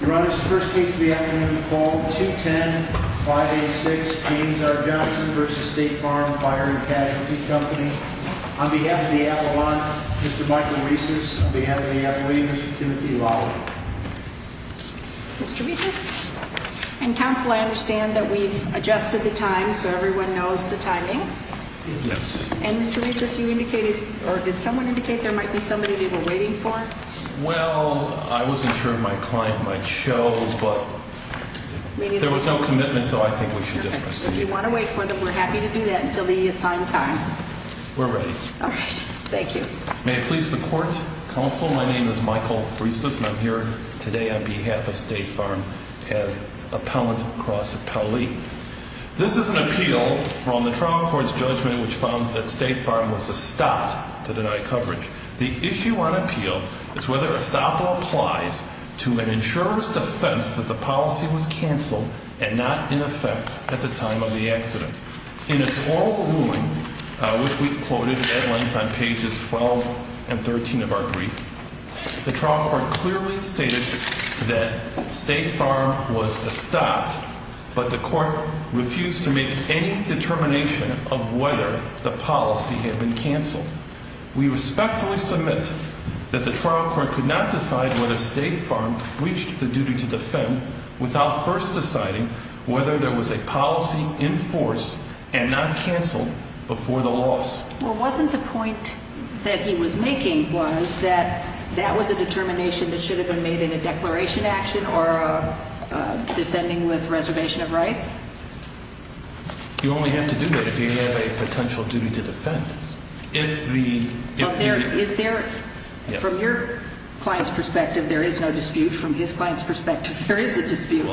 Your Honor, this is the first case of the afternoon, called 210-586 James R. Johnson v. State Farm Fire and Casualty Company. On behalf of the appellant, Mr. Michael Reisis. On behalf of the appellee, Mr. Timothy Lawley. Mr. Reisis? And counsel, I understand that we've adjusted the time so everyone knows the timing? Yes. And Mr. Reisis, you indicated, or did someone indicate there might be somebody that you were waiting for? Well, I wasn't sure my client might show, but there was no commitment, so I think we should just proceed. Okay. If you want to wait for them, we're happy to do that until the assigned time. We're ready. All right. Thank you. May it please the court, counsel, my name is Michael Reisis and I'm here today on behalf of State Farm as appellant cross-appellee. This is an appeal from the trial court's judgment which found that State Farm was stopped to deny coverage. The issue on appeal is whether a stop applies to an insurer's defense that the policy was canceled and not in effect at the time of the accident. In its oral ruling, which we've quoted at length on pages 12 and 13 of our brief, the trial court clearly stated that State Farm was stopped, but the court refused to make any determination of whether the policy had been canceled. We respectfully submit that the trial court could not decide whether State Farm reached the duty to defend without first deciding whether there was a policy in force and not canceled before the loss. Well, wasn't the point that he was making was that that was a determination that should have been made in a declaration action or a defending with reservation of rights? You only have to do that if you have a potential duty to defend. Is there, from your client's perspective, there is no dispute. From his client's perspective, there is a dispute.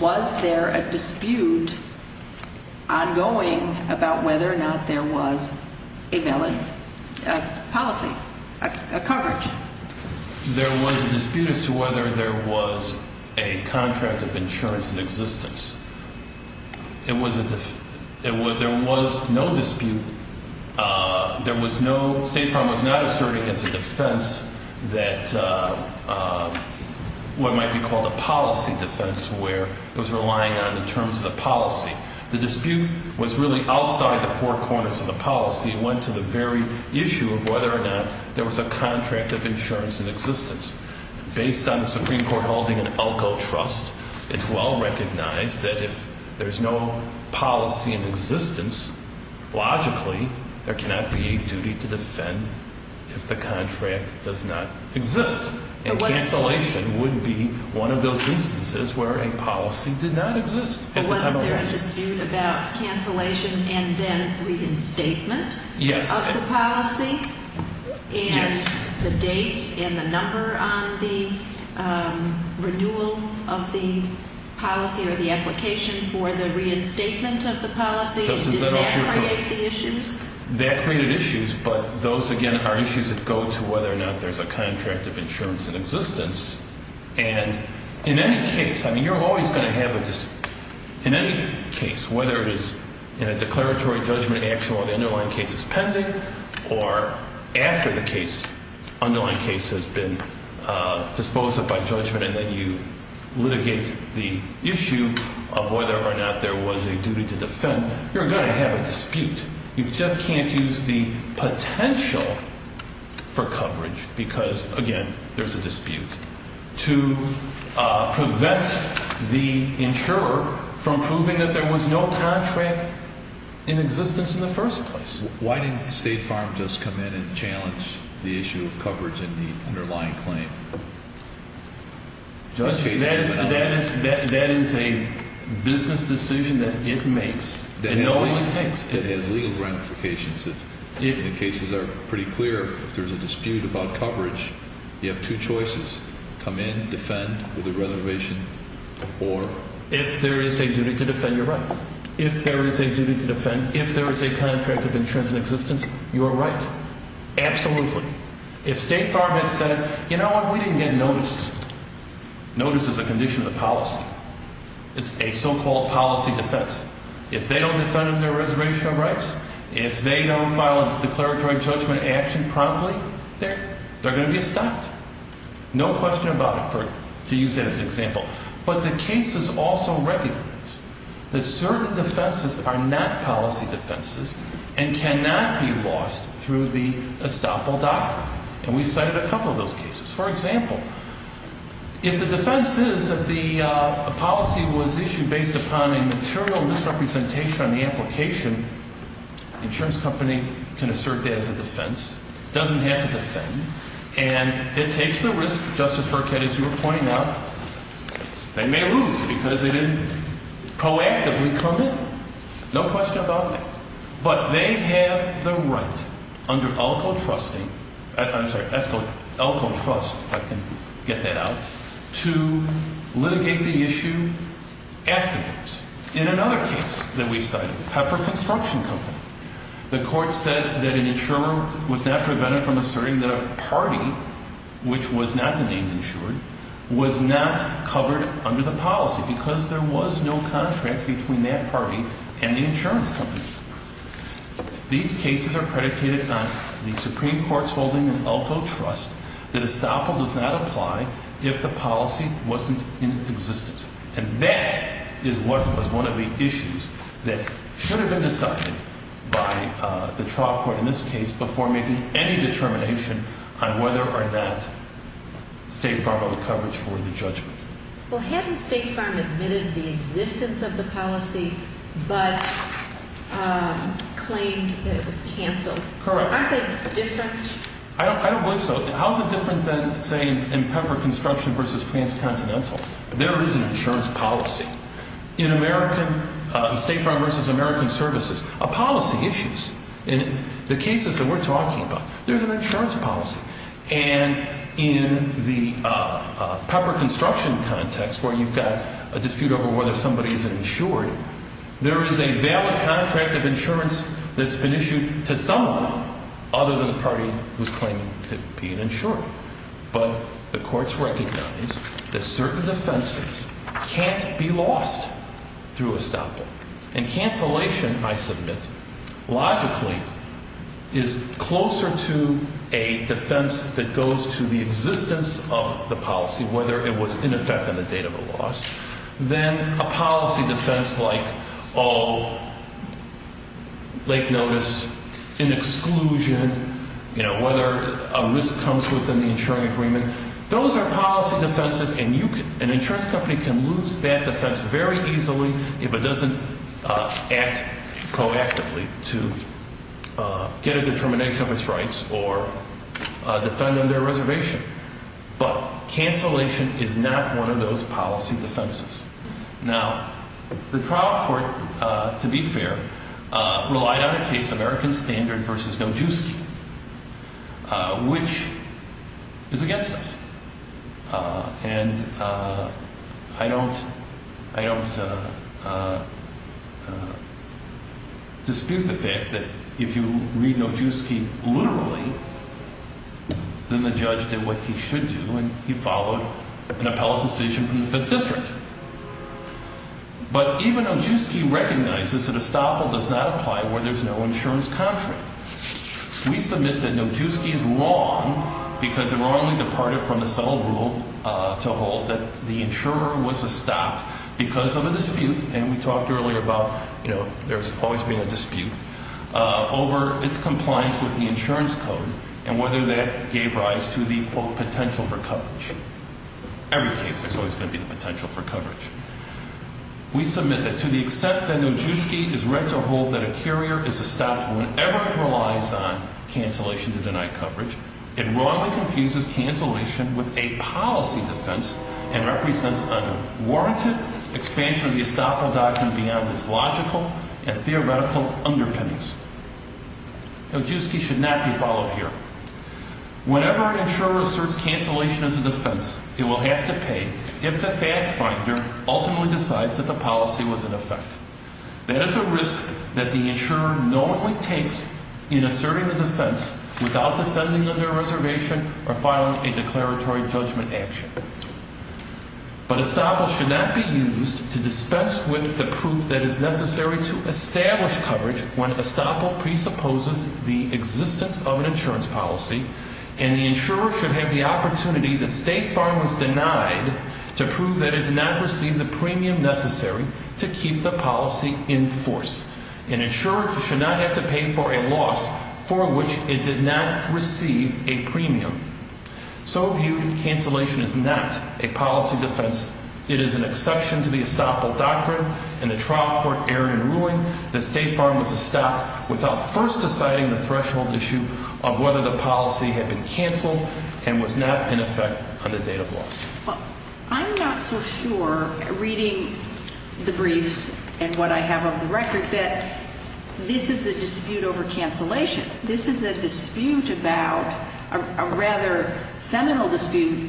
Was there a dispute ongoing about whether or not there was a valid policy, a coverage? There was a dispute as to whether there was a contract of insurance in existence. There was no dispute. State Farm was not asserting as a defense that what might be called a policy defense where it was relying on the terms of the policy. The dispute was really outside the four corners of the policy and went to the very issue of whether or not there was a contract of insurance in existence. Based on the Supreme Court holding an ALGO trust, it's well recognized that if there's no policy in existence, logically, there cannot be a duty to defend if the contract does not exist. And cancellation would be one of those instances where a policy did not exist. Wasn't there a dispute about cancellation and then reinstatement of the policy and the date and the number on the renewal of the policy or the application for the reinstatement of the policy? Did that create the issues? That created issues, but those, again, are issues that go to whether or not there's a contract of insurance in existence. And in any case, whether it is in a declaratory judgment action where the underlying case is pending or after the underlying case has been disposed of by judgment and then you litigate the issue of whether or not there was a duty to defend, you're going to have a dispute. You just can't use the potential for coverage because, again, there's a dispute, to prevent the insurer from proving that there was no contract in existence in the first place. Why didn't State Farm just come in and challenge the issue of coverage in the underlying claim? That is a business decision that it makes and no one takes. It has legal ramifications. The cases are pretty clear. If there's a dispute about coverage, you have two choices. Come in, defend with a reservation, or? If there is a duty to defend, you're right. If there is a duty to defend, if there is a contract of insurance in existence, you are right. Absolutely. If State Farm had said, you know what, we didn't get notice. Notice is a condition of the policy. It's a so-called policy defense. If they don't defend their reservation of rights, if they don't file a declaratory judgment action promptly, they're going to be stopped. No question about it, to use that as an example. But the cases also recognize that certain defenses are not policy defenses and cannot be lost through the estoppel doctrine. And we cited a couple of those cases. For example, if the defense is that the policy was issued based upon a material misrepresentation on the application, the insurance company can assert that as a defense. It doesn't have to defend. And it takes the risk, Justice Burkett, as you were pointing out, they may lose because they didn't proactively come in. No question about that. But they have the right under ELCO trusting, I'm sorry, ESCO, ELCO trust, if I can get that out, to litigate the issue afterwards. In another case that we cited, Pepper Construction Company, the court said that an insurer was not prevented from asserting that a party, which was not the name insured, was not covered under the policy because there was no contract between that party and the insurance company. These cases are predicated on the Supreme Court's holding an ELCO trust that estoppel does not apply if the policy wasn't in existence. And that is what was one of the issues that should have been decided by the trial court in this case before making any determination on whether or not State Farm had coverage for the judgment. Well, hadn't State Farm admitted the existence of the policy but claimed that it was canceled? Correct. Aren't they different? I don't believe so. How is it different than, say, in Pepper Construction versus Transcontinental? There is an insurance policy. In American State Farm versus American Services, a policy issues. In the cases that we're talking about, there's an insurance policy. And in the Pepper Construction context, where you've got a dispute over whether somebody is insured, there is a valid contract of insurance that's been issued to someone other than the party who's claiming to be an insurer. But the courts recognize that certain defenses can't be lost through estoppel. And cancellation, I submit, logically is closer to a defense that goes to the existence of the policy, whether it was in effect on the date of the loss, than a policy defense like, oh, late notice, an exclusion, whether a risk comes within the insuring agreement. Those are policy defenses, and an insurance company can lose that defense very easily if it doesn't act proactively to get a determination of its rights or defend on their reservation. But cancellation is not one of those policy defenses. Now, the trial court, to be fair, relied on a case, American Standard versus Nojewski, which is against us. And I don't dispute the fact that if you read Nojewski literally, then the judge did what he should do, and he followed an appellate decision from the 5th District. But even Nojewski recognizes that estoppel does not apply where there's no insurance contract. We submit that Nojewski is wrong because it wrongly departed from the subtle rule to hold that the insurer was estopped because of a dispute, and we talked earlier about, you know, there's always been a dispute, over its compliance with the insurance code and whether that gave rise to the, quote, potential for coverage. Every case, there's always going to be the potential for coverage. We submit that to the extent that Nojewski is read to hold that a carrier is estoppel whenever it relies on cancellation to deny coverage, it wrongly confuses cancellation with a policy defense and represents a warranted expansion of the estoppel doctrine beyond its logical and theoretical underpinnings. Nojewski should not be followed here. Whenever an insurer asserts cancellation as a defense, it will have to pay if the fact finder ultimately decides that the policy was in effect. That is a risk that the insurer knowingly takes in asserting the defense without defending under reservation or filing a declaratory judgment action. But estoppel should not be used to dispense with the proof that is necessary to establish coverage when estoppel presupposes the existence of an insurance policy, and the insurer should have the opportunity that State Farm was denied to prove that it did not receive the premium necessary to keep the policy in force. An insurer should not have to pay for a loss for which it did not receive a premium. So viewed, cancellation is not a policy defense. It is an exception to the estoppel doctrine and a trial court error in ruling that State Farm was estopped without first deciding the threshold issue of whether the policy had been canceled and was not in effect on the date of loss. Well, I'm not so sure, reading the briefs and what I have on the record, that this is a dispute over cancellation. This is a dispute about, a rather seminal dispute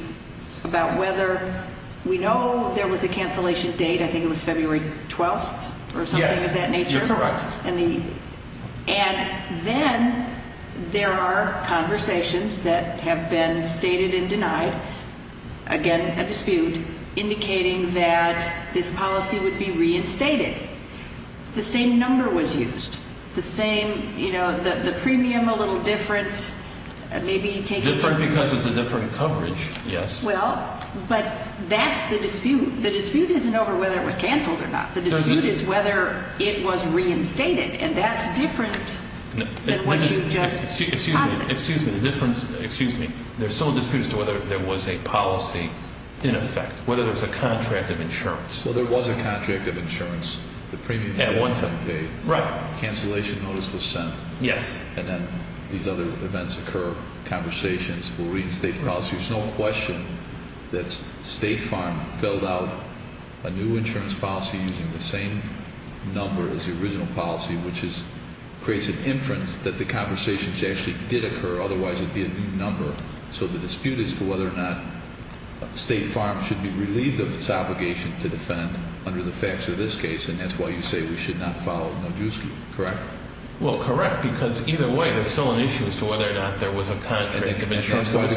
about whether we know there was a cancellation date. I think it was February 12th or something of that nature. Yes, you're correct. And then there are conversations that have been stated and denied. Again, a dispute indicating that this policy would be reinstated. The same number was used. The same, you know, the premium a little different. Different because it's a different coverage, yes. Well, but that's the dispute. The dispute isn't over whether it was canceled or not. The dispute is whether it was reinstated, and that's different than what you just posited. Excuse me, there's still a dispute as to whether there was a policy in effect, whether there was a contract of insurance. Well, there was a contract of insurance. The premium was paid. Right. A cancellation notice was sent. Yes. And then these other events occur, conversations. We'll read the state policy. There's no question that State Farm filled out a new insurance policy using the same number as the original policy, which creates an inference that the conversations actually did occur, otherwise it would be a new number. So the dispute is to whether or not State Farm should be relieved of its obligation to defend under the facts of this case, and that's why you say we should not follow Nojuski, correct? Well, correct, because either way, there's still an issue as to whether or not there was a contract of insurance. That's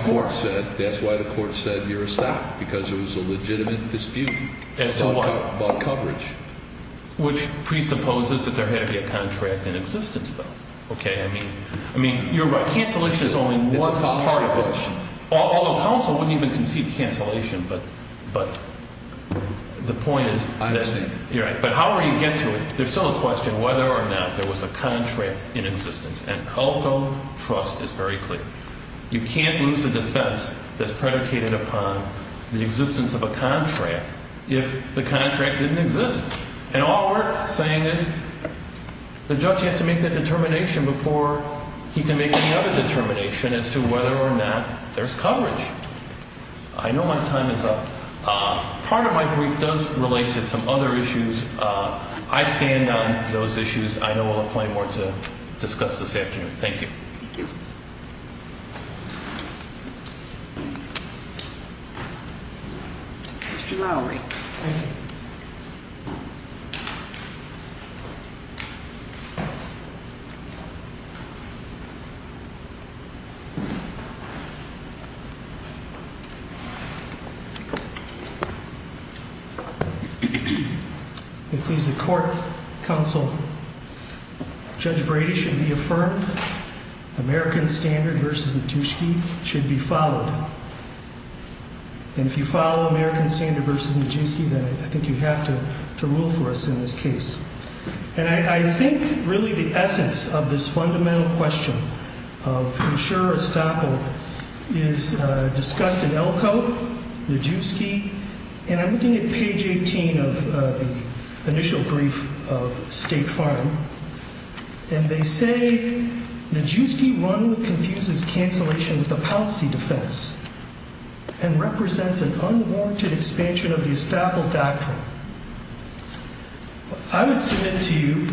why the court said you're a stop because it was a legitimate dispute about coverage. Which presupposes that there had to be a contract in existence, though. Okay, I mean, you're right. Cancellation is only one part of it. Although counsel wouldn't even concede cancellation, but the point is that you're right. But however you get to it, there's still a question whether or not there was a contract in existence, and Elko trust is very clear. You can't lose a defense that's predicated upon the existence of a contract if the contract didn't exist. And all we're saying is the judge has to make that determination before he can make any other determination as to whether or not there's coverage. I know my time is up. Part of my brief does relate to some other issues. I stand on those issues. I know we'll have plenty more to discuss this afternoon. Thank you. Thank you. Thank you. Mr Lowry. Thank you. Please. The court council. Judge Brady should be affirmed. American Standard vs. Natushki should be followed. And if you follow American Standard vs. Nijewski, then I think you have to rule for us in this case. And I think really the essence of this fundamental question of insurer estoppel is discussed in Elko, Nijewski. And I'm looking at page 18 of the initial brief of State Farm. And they say Nijewski one confuses cancellation of the policy defense and represents an unwarranted expansion of the estoppel doctrine. I would submit to you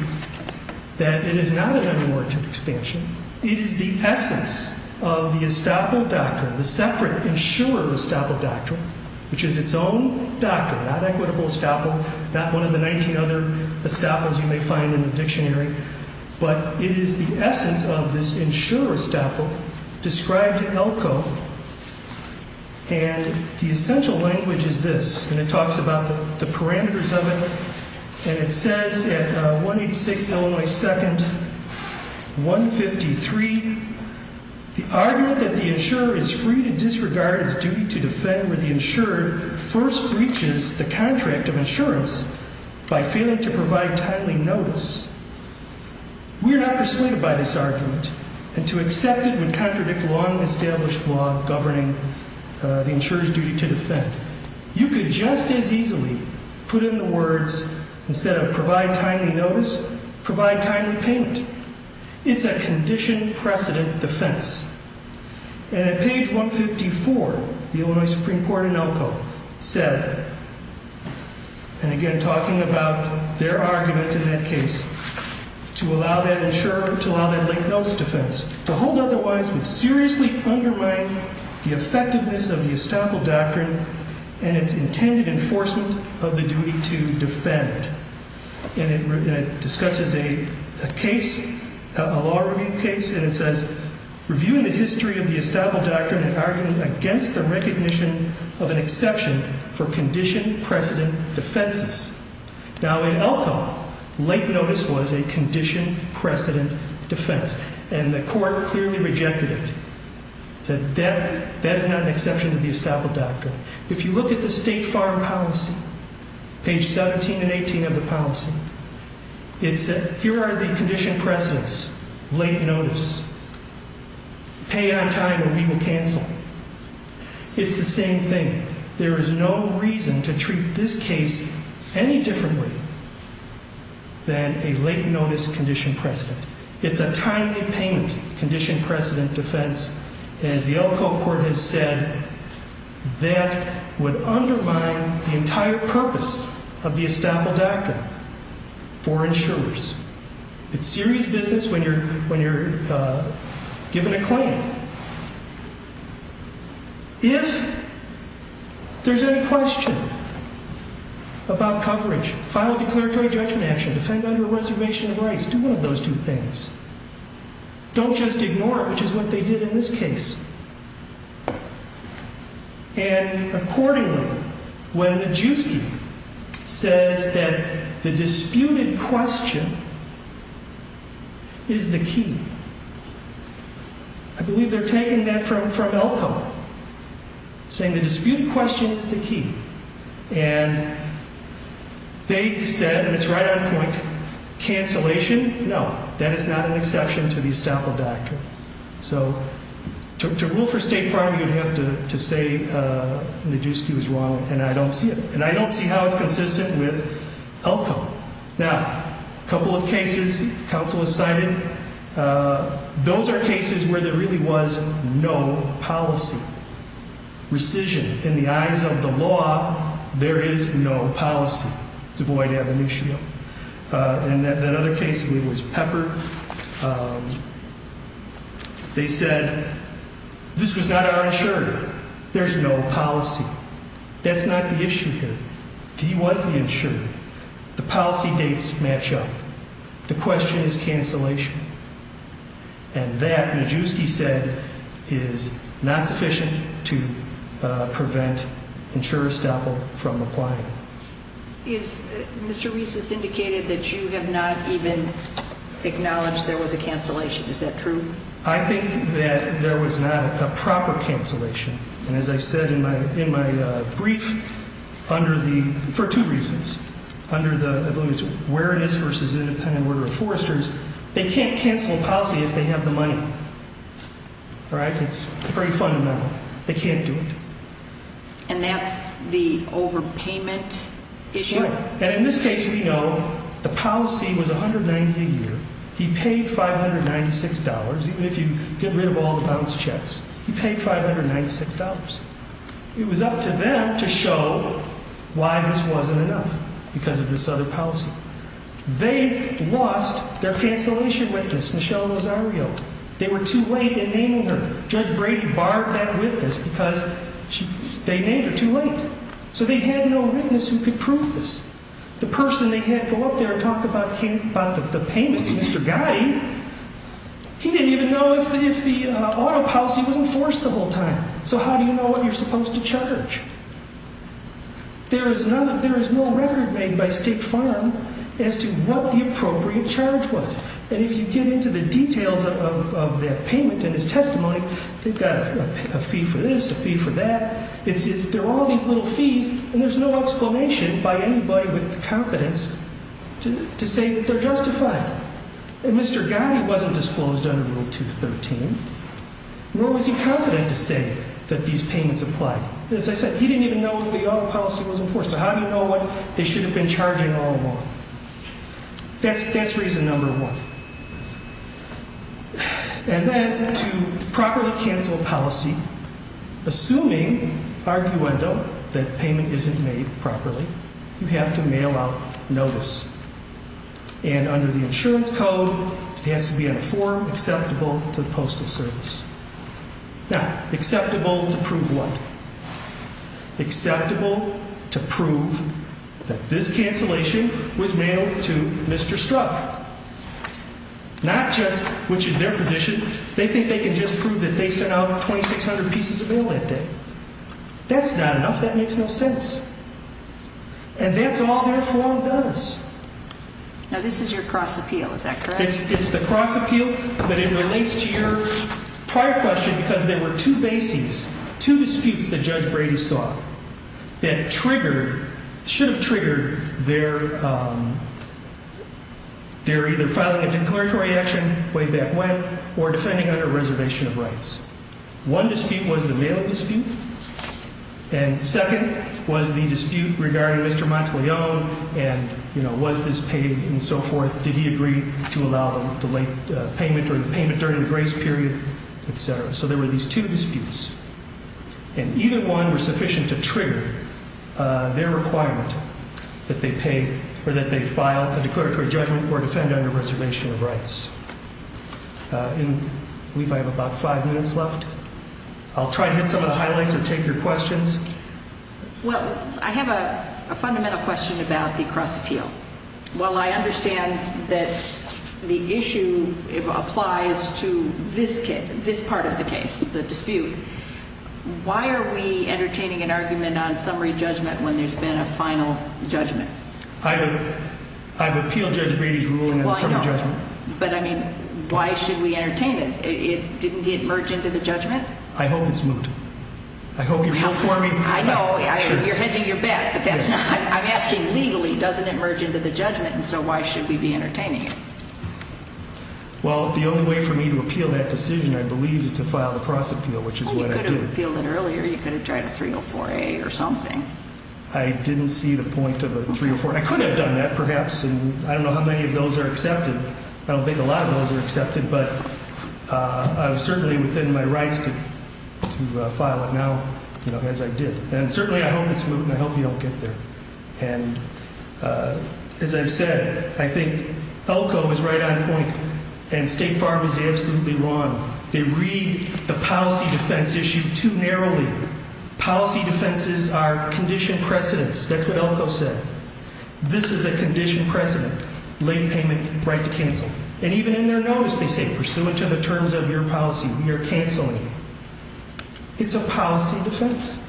that it is not an unwarranted expansion. It is the essence of the estoppel doctrine, the separate insurer estoppel doctrine, which is its own doctrine, not equitable estoppel, not one of the 19 other estoppels you may find in the dictionary. But it is the essence of this insurer estoppel described in Elko. And the essential language is this. And it talks about the parameters of it. And it says at 186 Illinois 2nd, 153, the argument that the insurer is free to disregard its duty to defend where the insurer first breaches the contract of insurance by failing to provide timely notice. We are not persuaded by this argument. And to accept it would contradict long established law governing the insurer's duty to defend. You could just as easily put in the words instead of provide timely notice, provide timely payment. It's a condition precedent defense. And at page 154, the only Supreme Court in Elko said. And again, talking about their argument in that case. To allow that insurer to allow that late notice defense to hold otherwise would seriously undermine the effectiveness of the estoppel doctrine and its intended enforcement of the duty to defend. And it discusses a case, a law review case. And it says reviewing the history of the estoppel doctrine and arguing against the recognition of an exception for condition precedent defenses. Now in Elko, late notice was a condition precedent defense. And the court clearly rejected it. Said that is not an exception to the estoppel doctrine. If you look at the state farm policy, page 17 and 18 of the policy, it said here are the condition precedents, late notice, pay on time or we will cancel. It's the same thing. There is no reason to treat this case any differently than a late notice condition precedent. It's a timely payment condition precedent defense. As the Elko court has said, that would undermine the entire purpose of the estoppel doctrine for insurers. It's serious business when you're given a claim. If there's any question about coverage, file a declaratory judgment action, defend under a reservation of rights, do one of those two things. Don't just ignore it, which is what they did in this case. And accordingly, when Majewski says that the disputed question is the key, I believe they're taking that from Elko, saying the disputed question is the key. And they said, and it's right on point, cancellation? No, that is not an exception to the estoppel doctrine. So to rule for state farm, you have to say Majewski was wrong, and I don't see it. And I don't see how it's consistent with Elko. Now, a couple of cases counsel has cited, those are cases where there really was no policy. Rescission, in the eyes of the law, there is no policy to avoid ab initio. And that other case was Pepper. They said, this was not our insurer. There's no policy. That's not the issue here. He was the insurer. The policy dates match up. The question is cancellation. And that, Majewski said, is not sufficient to prevent insurer estoppel from applying. Is, Mr. Reese has indicated that you have not even acknowledged there was a cancellation. Is that true? I think that there was not a proper cancellation. And as I said in my brief, under the, for two reasons. Where it is versus independent order of foresters, they can't cancel a policy if they have the money. All right? It's pretty fundamental. They can't do it. And that's the overpayment issue? Sure. And in this case, we know the policy was $190 a year. He paid $596, even if you get rid of all the bounced checks. He paid $596. It was up to them to show why this wasn't enough. Because of this other policy. They lost their cancellation witness, Michelle Rosario. They were too late in naming her. Judge Brady barred that witness because they named her too late. So they had no witness who could prove this. The person they had go up there and talk about the payments, Mr. Gotti, he didn't even know if the auto policy was enforced the whole time. So how do you know what you're supposed to charge? There is no record made by State Farm as to what the appropriate charge was. And if you get into the details of that payment and his testimony, they've got a fee for this, a fee for that. There are all these little fees, and there's no explanation by anybody with the competence to say that they're justified. And Mr. Gotti wasn't disclosed under Rule 213. Nor was he competent to say that these payments apply. As I said, he didn't even know if the auto policy was enforced. So how do you know what they should have been charging all along? That's reason number one. And then to properly cancel a policy, assuming, arguendo, that payment isn't made properly, you have to mail out notice. And under the insurance code, it has to be on a form acceptable to the Postal Service. Now, acceptable to prove what? Acceptable to prove that this cancellation was mailed to Mr. Strzok. Not just which is their position. They think they can just prove that they sent out 2,600 pieces of mail that day. That's not enough. That makes no sense. And that's all their form does. Now, this is your cross appeal. Is that correct? It's the cross appeal, but it relates to your prior question because there were two bases, two disputes that Judge Brady saw that triggered, should have triggered their either filing a declaratory action way back when or defending under a reservation of rights. One dispute was the mail dispute, and second was the dispute regarding Mr. Monteleone and, you know, was this paid and so forth. Did he agree to allow the late payment or the payment during the grace period, etc. So there were these two disputes, and either one were sufficient to trigger their requirement that they pay or that they file a declaratory judgment or defend under a reservation of rights. I believe I have about five minutes left. I'll try to hit some of the highlights or take your questions. Well, I have a fundamental question about the cross appeal. While I understand that the issue applies to this part of the case, the dispute, why are we entertaining an argument on summary judgment when there's been a final judgment? I've appealed Judge Brady's ruling on summary judgment. But, I mean, why should we entertain it? Didn't it merge into the judgment? I hope it's moot. I hope you're here for me. I know. You're hedging your bet. I'm asking legally, doesn't it merge into the judgment, and so why should we be entertaining it? Well, the only way for me to appeal that decision, I believe, is to file the cross appeal, which is what I did. Well, you could have appealed it earlier. You could have tried a 304A or something. I didn't see the point of a 304. I could have done that, perhaps, and I don't know how many of those are accepted. I don't think a lot of those are accepted, but I'm certainly within my rights to file it now, as I did. And certainly I hope it's moot, and I hope you don't get there. And as I've said, I think Elko is right on point, and State Farm is absolutely wrong. They read the policy defense issue too narrowly. Policy defenses are conditioned precedents. That's what Elko said. This is a conditioned precedent, late payment, right to cancel. And even in their notice they say, pursuant to the terms of your policy, we are canceling you. It's a policy defense,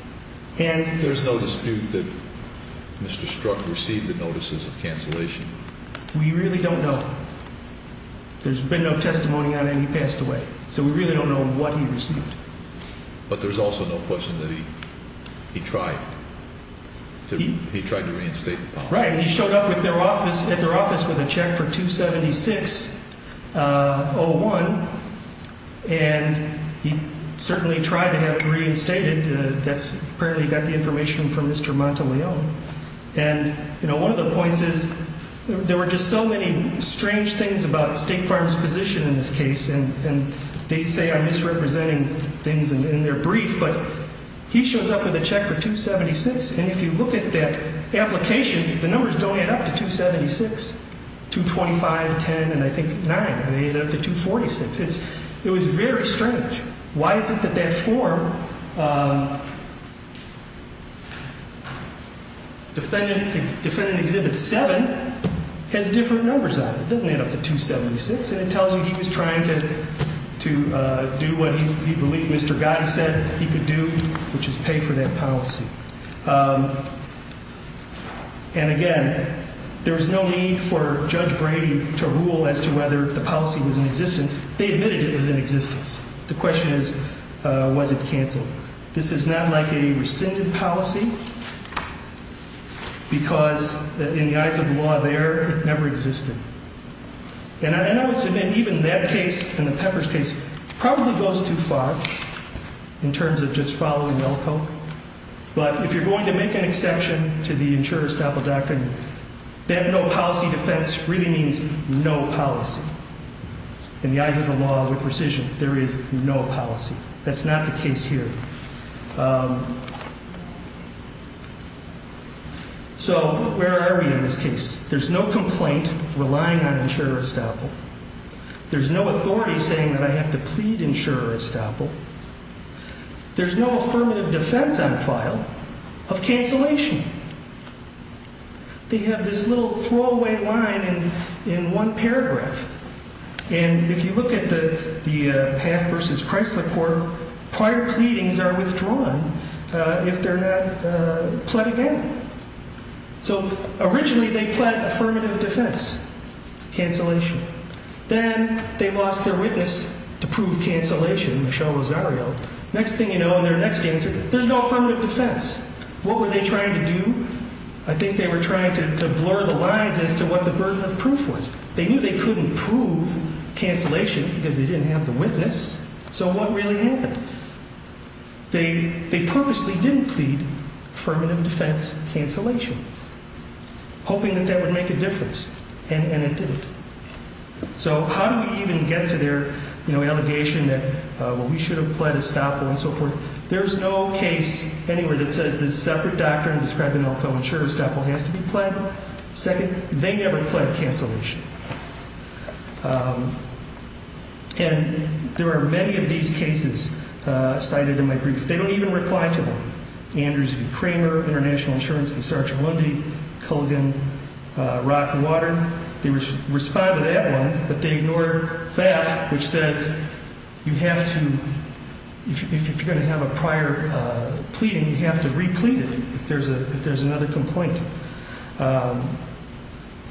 and there's no dispute that Mr. Strzok received the notices of cancellation. We really don't know. There's been no testimony on it, and he passed away. So we really don't know what he received. But there's also no question that he tried to reinstate the policy. Right. He showed up at their office with a check for $276.01, and he certainly tried to have it reinstated. That's apparently got the information from Mr. Monteleone. And, you know, one of the points is there were just so many strange things about State Farm's position in this case, and they say I'm misrepresenting things in their brief, but he shows up with a check for $276.00, and if you look at that application, the numbers don't add up to $276.00. $225.00, $210.00, and I think $9.00, they add up to $246.00. It was very strange. Why is it that that form, defendant Exhibit 7, has different numbers on it? It doesn't add up to $276.00, and it tells you he was trying to do what he believed Mr. Gotti said he could do, which is pay for that policy. And, again, there was no need for Judge Brady to rule as to whether the policy was in existence. They admitted it was in existence. So this is not like a rescinded policy because, in the eyes of the law there, it never existed. And I would submit even that case and the Peppers case probably goes too far in terms of just following Melco. But if you're going to make an exception to the insurer-estoppel doctrine, that no policy defense really means no policy. In the eyes of the law, with precision, there is no policy. That's not the case here. So where are we in this case? There's no complaint relying on insurer-estoppel. There's no authority saying that I have to plead insurer-estoppel. There's no affirmative defense on file of cancellation. They have this little throwaway line in one paragraph. And if you look at the Path v. Chrysler court, prior pleadings are withdrawn if they're not pled again. So originally they pled affirmative defense, cancellation. Then they lost their witness to prove cancellation, Michel Rosario. Next thing you know, in their next answer, there's no affirmative defense. What were they trying to do? I think they were trying to blur the lines as to what the burden of proof was. They knew they couldn't prove cancellation because they didn't have the witness. So what really happened? They purposely didn't plead affirmative defense, cancellation, hoping that that would make a difference. And it didn't. So how do we even get to their allegation that, well, we should have pled estoppel and so forth? There's no case anywhere that says there's a separate doctrine describing how a co-insurer-estoppel has to be pled. That's one. Second, they never pled cancellation. And there are many of these cases cited in my brief. They don't even reply to them. Andrews v. Kramer, International Insurance v. Sgt. Lundy, Culligan v. Rockwater. They respond to that one, but they ignore FAF, which says you have to, if you're going to have a prior pleading, you have to replete it if there's another complaint.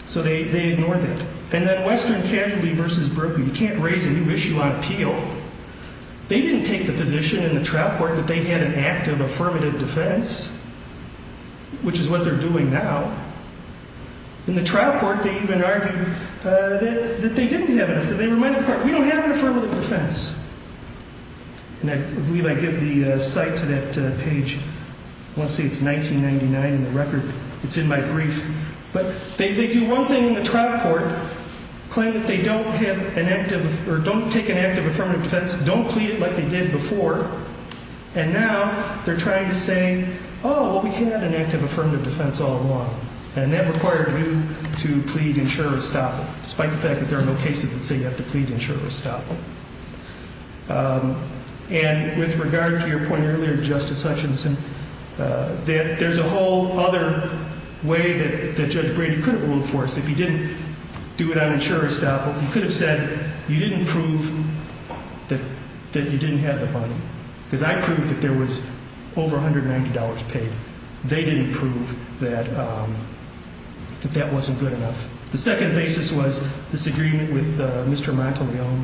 So they ignore that. And then Western Casualty v. Brooklyn. You can't raise a new issue on appeal. They didn't take the position in the trial court that they had an active affirmative defense, which is what they're doing now. In the trial court, they even argued that they didn't have an affirmative defense. They reminded the court, we don't have an affirmative defense. And I believe I give the cite to that page. I want to say it's 1999 in the record. It's in my brief. But they do one thing in the trial court, claim that they don't have an active or don't take an active affirmative defense, don't plead it like they did before, and now they're trying to say, oh, we had an active affirmative defense all along. And that required you to plead insurer-estoppel, despite the fact that there are no cases that say you have to plead insurer-estoppel. And with regard to your point earlier, Justice Hutchinson, there's a whole other way that Judge Brady could have ruled for us. If he didn't do it on insurer-estoppel, he could have said you didn't prove that you didn't have the money. Because I proved that there was over $190 paid. They didn't prove that that wasn't good enough. The second basis was this agreement with Mr. Monteleone.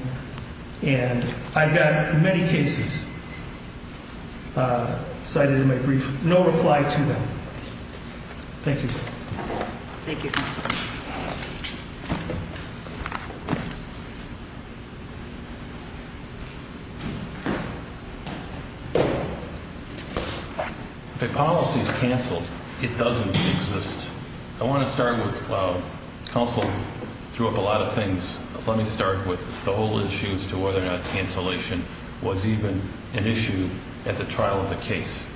And I've got many cases cited in my brief, no reply to them. Thank you. Thank you. If a policy is canceled, it doesn't exist. I want to start with counsel threw up a lot of things. Let me start with the whole issue as to whether or not cancellation was even an issue at the trial of the case.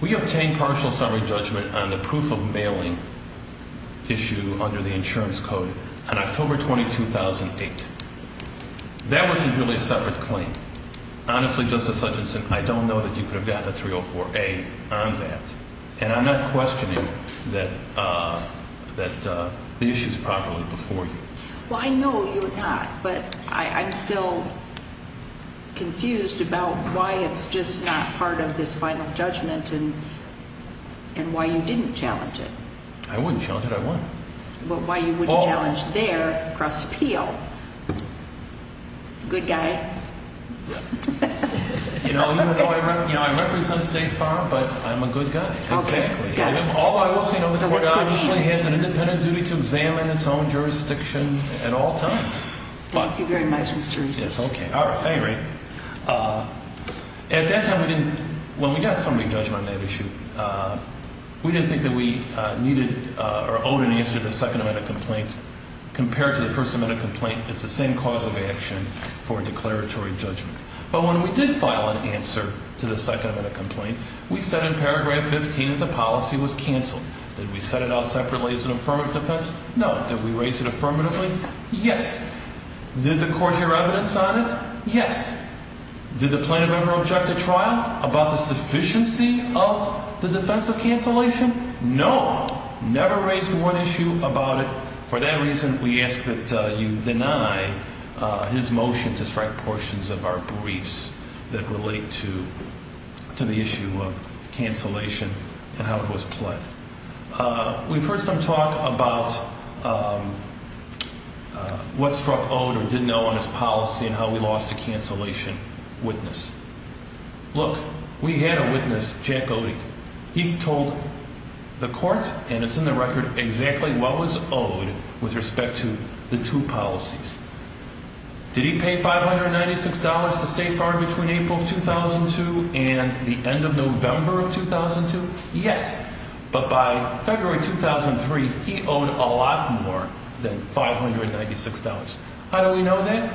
We obtained partial summary judgment on the proof of mailing issue under the insurance code on October 20, 2008. That wasn't really a separate claim. Honestly, Justice Hutchinson, I don't know that you could have gotten a 304A on that. And I'm not questioning that the issue is properly before you. Well, I know you're not. But I'm still confused about why it's just not part of this final judgment and why you didn't challenge it. I wouldn't challenge it. I wouldn't. But why you wouldn't challenge their cross appeal. Good guy. You know, I represent State Farm, but I'm a good guy. Exactly. All I will say, the court obviously has an independent duty to examine its own jurisdiction at all times. Thank you very much, Mr. Reese. It's okay. All right. At that time, when we got summary judgment on that issue, we didn't think that we needed or owed an answer to the second amendment complaint. Compared to the first amendment complaint, it's the same cause of action for declaratory judgment. But when we did file an answer to the second amendment complaint, we said in paragraph 15 that the policy was canceled. Did we set it out separately as an affirmative defense? No. Did we raise it affirmatively? Yes. Did the court hear evidence on it? Yes. Did the plaintiff ever object to trial about the sufficiency of the defense of cancellation? No. Never raised one issue about it. For that reason, we ask that you deny his motion to strike portions of our briefs that relate to the issue of cancellation and how it was played. We've heard some talk about what struck Ode or didn't know on his policy and how we lost a cancellation witness. Look, we had a witness, Jack Ode. He told the court, and it's in the record, exactly what was owed with respect to the two policies. Did he pay $596 to stay far between April of 2002 and the end of November of 2002? Yes. But by February 2003, he owed a lot more than $596. How do we know that?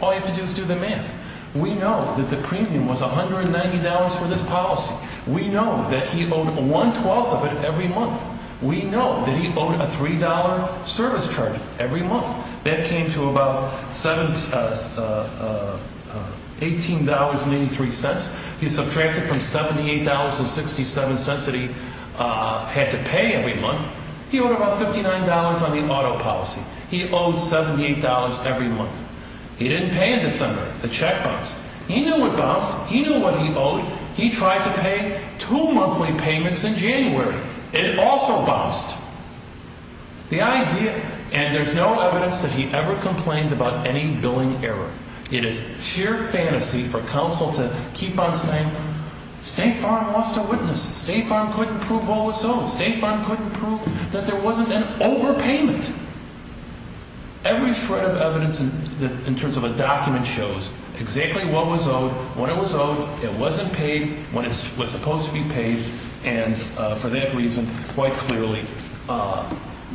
All you have to do is do the math. We know that the premium was $190 for this policy. We know that he owed one twelfth of it every month. We know that he owed a $3 service charge every month. That came to about $18.93. He subtracted from $78.67 that he had to pay every month. He owed about $59 on the auto policy. He owed $78 every month. He didn't pay in December. The check bounced. He knew it bounced. He knew what he owed. He tried to pay two monthly payments in January. It also bounced. The idea, and there's no evidence that he ever complained about any billing error. It is sheer fantasy for counsel to keep on saying State Farm lost a witness. State Farm couldn't prove all was owed. State Farm couldn't prove that there wasn't an overpayment. Every shred of evidence in terms of a document shows exactly what was owed, when it was owed, it wasn't paid, when it was supposed to be paid, and for that reason, quite clearly,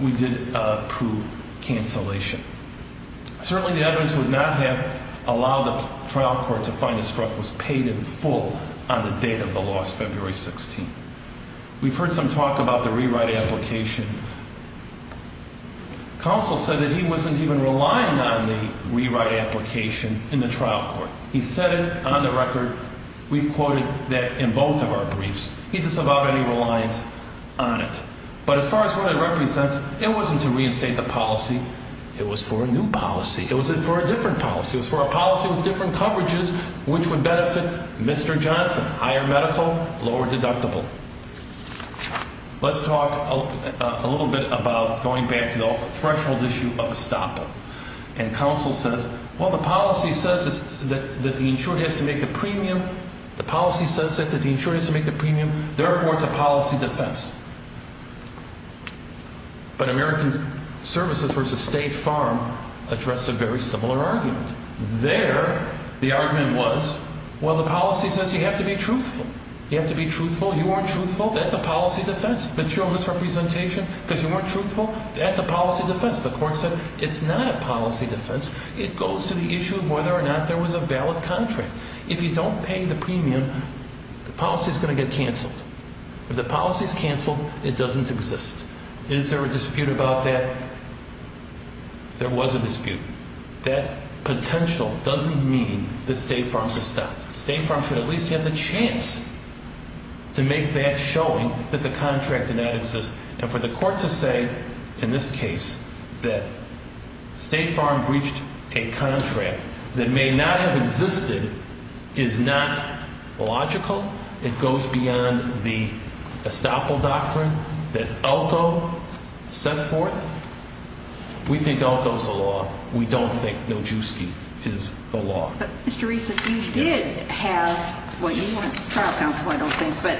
we did prove cancellation. Certainly, the evidence would not have allowed the trial court to find this truck was paid in full on the date of the loss, February 16th. We've heard some talk about the rewrite application. Counsel said that he wasn't even relying on the rewrite application in the trial court. He said it on the record. We've quoted that in both of our briefs. He doesn't have any reliance on it. But as far as what it represents, it wasn't to reinstate the policy. It was for a new policy. It was for a different policy. It was for a policy with different coverages, which would benefit Mr. Johnson, higher medical, lower deductible. Let's talk a little bit about going back to the threshold issue of a stop-up. And counsel says, well, the policy says that the insured has to make the premium. The policy says that the insured has to make the premium. Therefore, it's a policy defense. But American Services v. State Farm addressed a very similar argument. There, the argument was, well, the policy says you have to be truthful. You have to be truthful. You weren't truthful. That's a policy defense. But you're a misrepresentation because you weren't truthful. That's a policy defense. The court said it's not a policy defense. It goes to the issue of whether or not there was a valid contract. If you don't pay the premium, the policy is going to get canceled. If the policy is canceled, it doesn't exist. Is there a dispute about that? There was a dispute. That potential doesn't mean that State Farm's a stop. State Farm should at least have the chance to make that showing that the contract did not exist. And for the court to say in this case that State Farm breached a contract that may not have existed is not logical. It goes beyond the estoppel doctrine that Elko set forth. We think Elko's the law. We don't think Nojewski is the law. But, Mr. Reese, you did have what you want, trial counsel, I don't think, but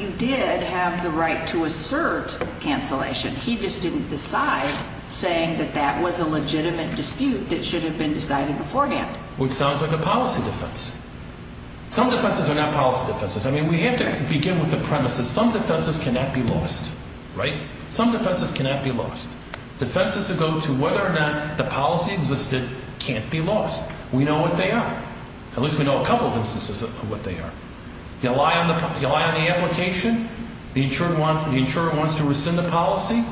you did have the right to assert cancellation. He just didn't decide, saying that that was a legitimate dispute that should have been decided beforehand. Which sounds like a policy defense. Some defenses are not policy defenses. I mean, we have to begin with the premise that some defenses cannot be lost, right? Some defenses cannot be lost. Defenses that go to whether or not the policy existed can't be lost. We know what they are. At least we know a couple of instances of what they are. You rely on the application, the insurer wants to rescind the policy.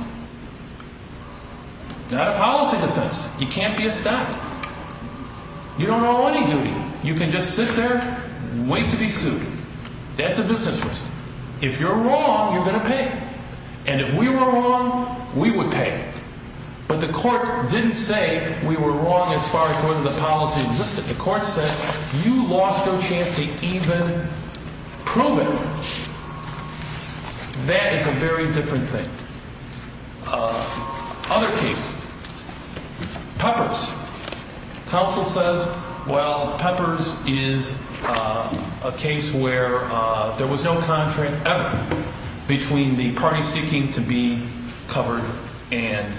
Not a policy defense. You can't be a stop. You don't owe any duty. You can just sit there and wait to be sued. That's a business risk. If you're wrong, you're going to pay. And if we were wrong, we would pay. But the court didn't say we were wrong as far as whether the policy existed. The court said you lost your chance to even prove it. That is a very different thing. Other cases. Peppers. Counsel says, well, Peppers is a case where there was no contract ever between the party seeking to be covered and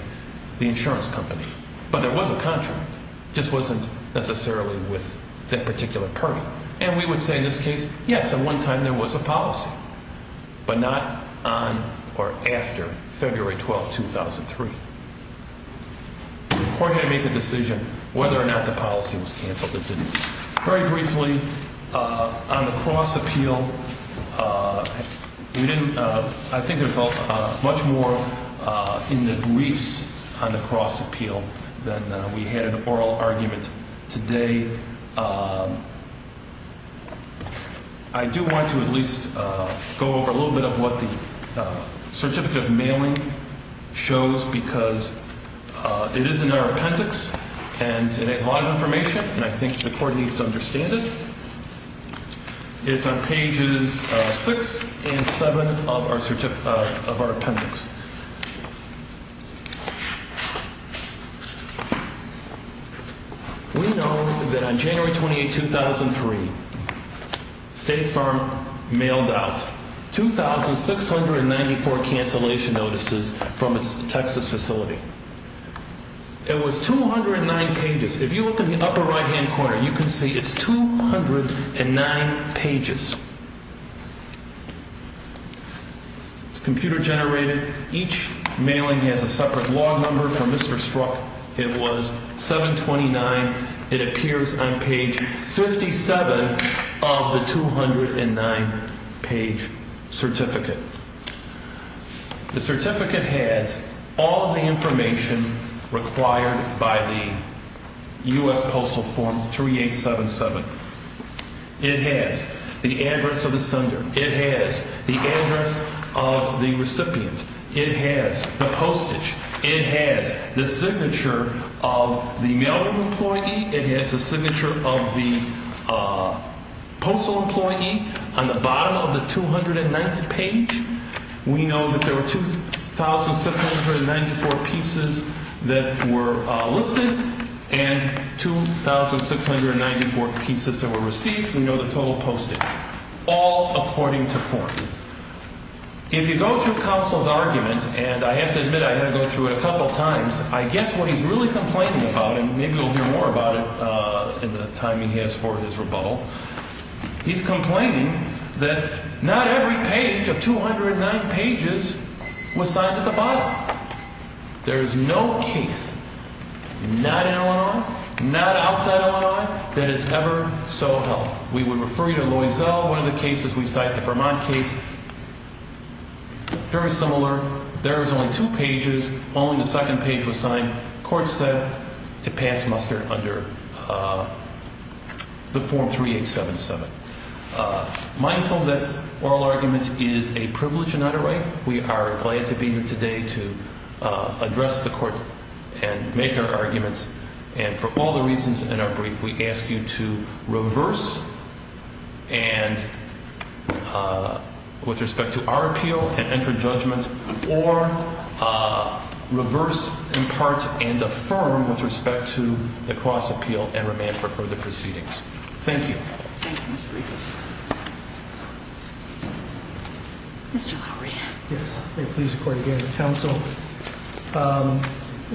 the insurance company. But there was a contract. It just wasn't necessarily with that particular party. And we would say in this case, yes, at one time there was a policy. But not on or after February 12, 2003. The court had to make a decision whether or not the policy was canceled. It didn't. Very briefly, on the cross appeal, I think there's much more in the briefs on the cross appeal than we had in the oral argument today. I do want to at least go over a little bit of what the certificate of mailing shows, because it is in our appendix. And it has a lot of information. And I think the court needs to understand it. It's on pages six and seven of our appendix. We know that on January 28, 2003, State Farm mailed out 2,694 cancellation notices from its Texas facility. It was 209 pages. If you look in the upper right-hand corner, you can see it's 209 pages. It's computer generated. Each mailing has a separate log number. For Mr. Strzok, it was 729. It appears on page 57 of the 209-page certificate. The certificate has all the information required by the U.S. Postal Form 3877. It has the address of the sender. It has the address of the recipient. It has the postage. It has the signature of the mailing employee. It has the signature of the postal employee. On the bottom of the 209th page, we know that there were 2,694 pieces that were listed and 2,694 pieces that were received. We know the total postage, all according to form. If you go through counsel's argument, and I have to admit I had to go through it a couple times, I guess what he's really complaining about, and maybe we'll hear more about it in the time he has for his rebuttal, he's complaining that not every page of 209 pages was signed at the bottom. There is no case, not in Illinois, not outside Illinois, that is ever so held. We would refer you to Loisel, one of the cases we cite, the Vermont case, very similar. There was only two pages. Only the second page was signed. Court said it passed muster under the form 3877. Mindful that oral argument is a privilege and not a right. We are glad to be here today to address the court and make our arguments, and for all the reasons in our brief, we ask you to reverse and, with respect to our appeal, and enter judgment, or reverse, impart, and affirm with respect to the cross appeal and remand for further proceedings. Thank you. Thank you, Mr. Reese. Mr. Lowry. Yes. May it please the court, again, counsel.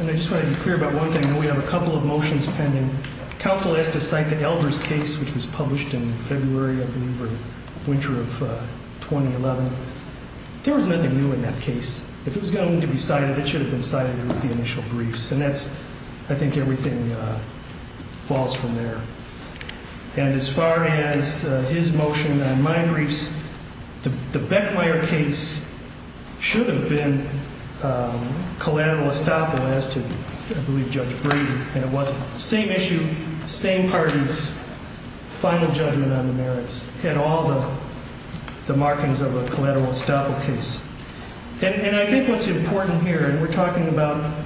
And I just want to be clear about one thing. We have a couple of motions pending. Counsel has to cite the Elders case, which was published in February, I believe, or winter of 2011. There was nothing new in that case. If it was going to be cited, it should have been cited in the initial briefs. And that's, I think, everything falls from there. And as far as his motion on my briefs, the Beckmeyer case should have been collateral estoppel as to, I believe, Judge Brady. And it wasn't. Same issue, same parties, final judgment on the merits, and all the markings of a collateral estoppel case. And I think what's important here, and we're talking about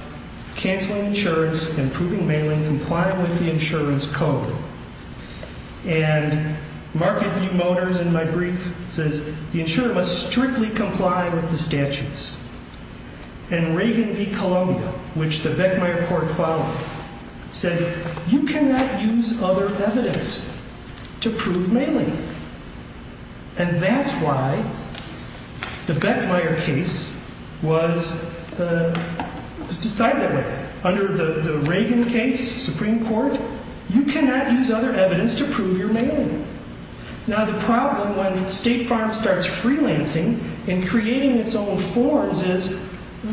canceling insurance and proving bailing, complying with the insurance code, and Marketview Motors, in my brief, says the insurer must strictly comply with the statutes. And Reagan v. Columbia, which the Beckmeyer court followed, said you cannot use other evidence to prove mailing. And that's why the Beckmeyer case was decided that way. Under the Reagan case, Supreme Court, you cannot use other evidence to prove your mailing. Now, the problem when State Farm starts freelancing and creating its own forms is,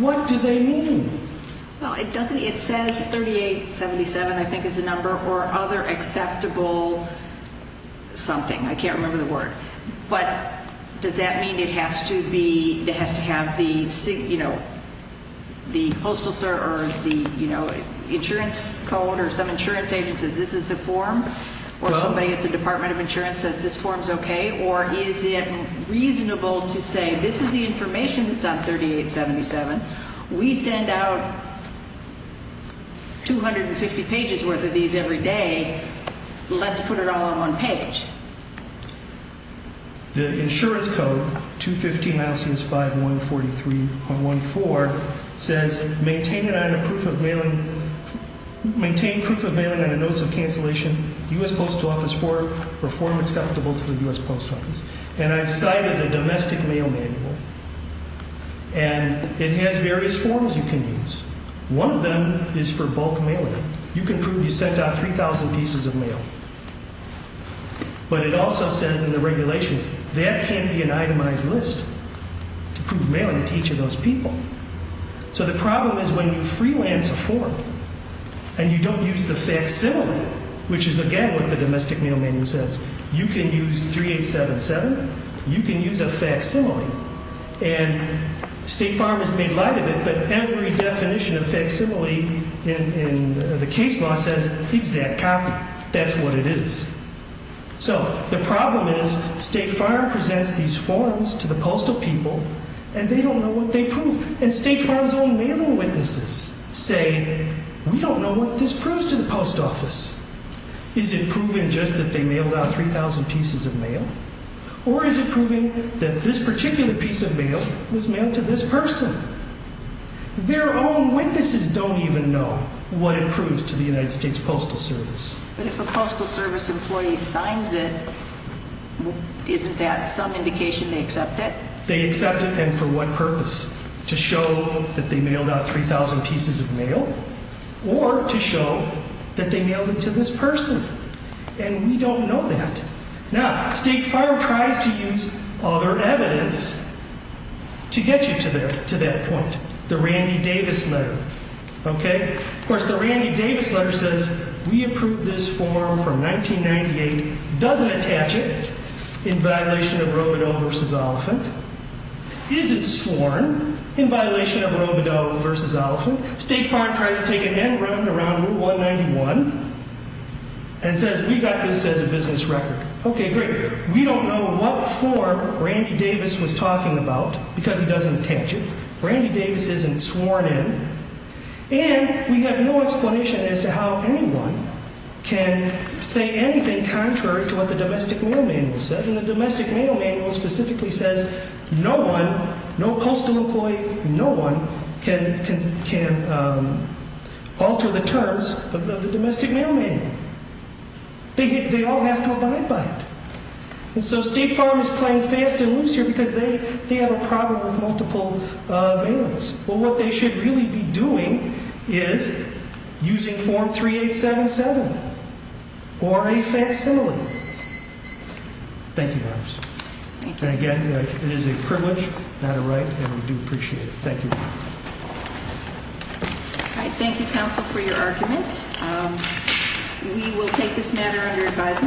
what do they mean? Well, it says 3877, I think, is the number, or other acceptable something. I can't remember the word. But does that mean it has to have the postal service or the insurance code or some insurance agency that says this is the form? Or somebody at the Department of Insurance says this form's okay? Or is it reasonable to say this is the information that's on 3877. We send out 250 pages' worth of these every day. Let's put it all on one page. The insurance code, 215-5143.14, says maintain proof of mailing on a notice of cancellation, U.S. Post Office form, or form acceptable to the U.S. Post Office. And I've cited a domestic mail manual. And it has various forms you can use. One of them is for bulk mailing. You can prove you sent out 3,000 pieces of mail. But it also says in the regulations that can't be an itemized list to prove mailing to each of those people. So the problem is when you freelance a form and you don't use the facsimile, which is, again, what the domestic mail manual says, you can use 3877. You can use a facsimile. And State Farm has made light of it, but every definition of facsimile in the case law says exact copy. That's what it is. So the problem is State Farm presents these forms to the postal people, and they don't know what they prove. And State Farm's own mailing witnesses say, we don't know what this proves to the Post Office. Is it proving just that they mailed out 3,000 pieces of mail? Or is it proving that this particular piece of mail was mailed to this person? Their own witnesses don't even know what it proves to the United States Postal Service. But if a Postal Service employee signs it, isn't that some indication they accept it? They accept it, and for what purpose? To show that they mailed out 3,000 pieces of mail? Or to show that they mailed it to this person? And we don't know that. Now, State Farm tries to use other evidence to get you to that point. The Randy Davis letter. Of course, the Randy Davis letter says, we approved this form from 1998, doesn't attach it in violation of Robodeau v. Oliphant. Is it sworn in violation of Robodeau v. Oliphant? State Farm tries to take an N round around 191 and says, we got this as a business record. Okay, great. We don't know what form Randy Davis was talking about because he doesn't attach it. Randy Davis isn't sworn in. And we have no explanation as to how anyone can say anything contrary to what the Domestic Mail Manual says. And the Domestic Mail Manual specifically says, no one, no coastal employee, no one can alter the terms of the Domestic Mail Manual. They all have to abide by it. And so State Farm is playing fast and loose here because they have a problem with multiple mails. Well, what they should really be doing is using form 3877 or a facsimile. Thank you. And again, it is a privilege, not a right. And we do appreciate it. Thank you. Thank you, counsel, for your argument. We will take this matter under advisement.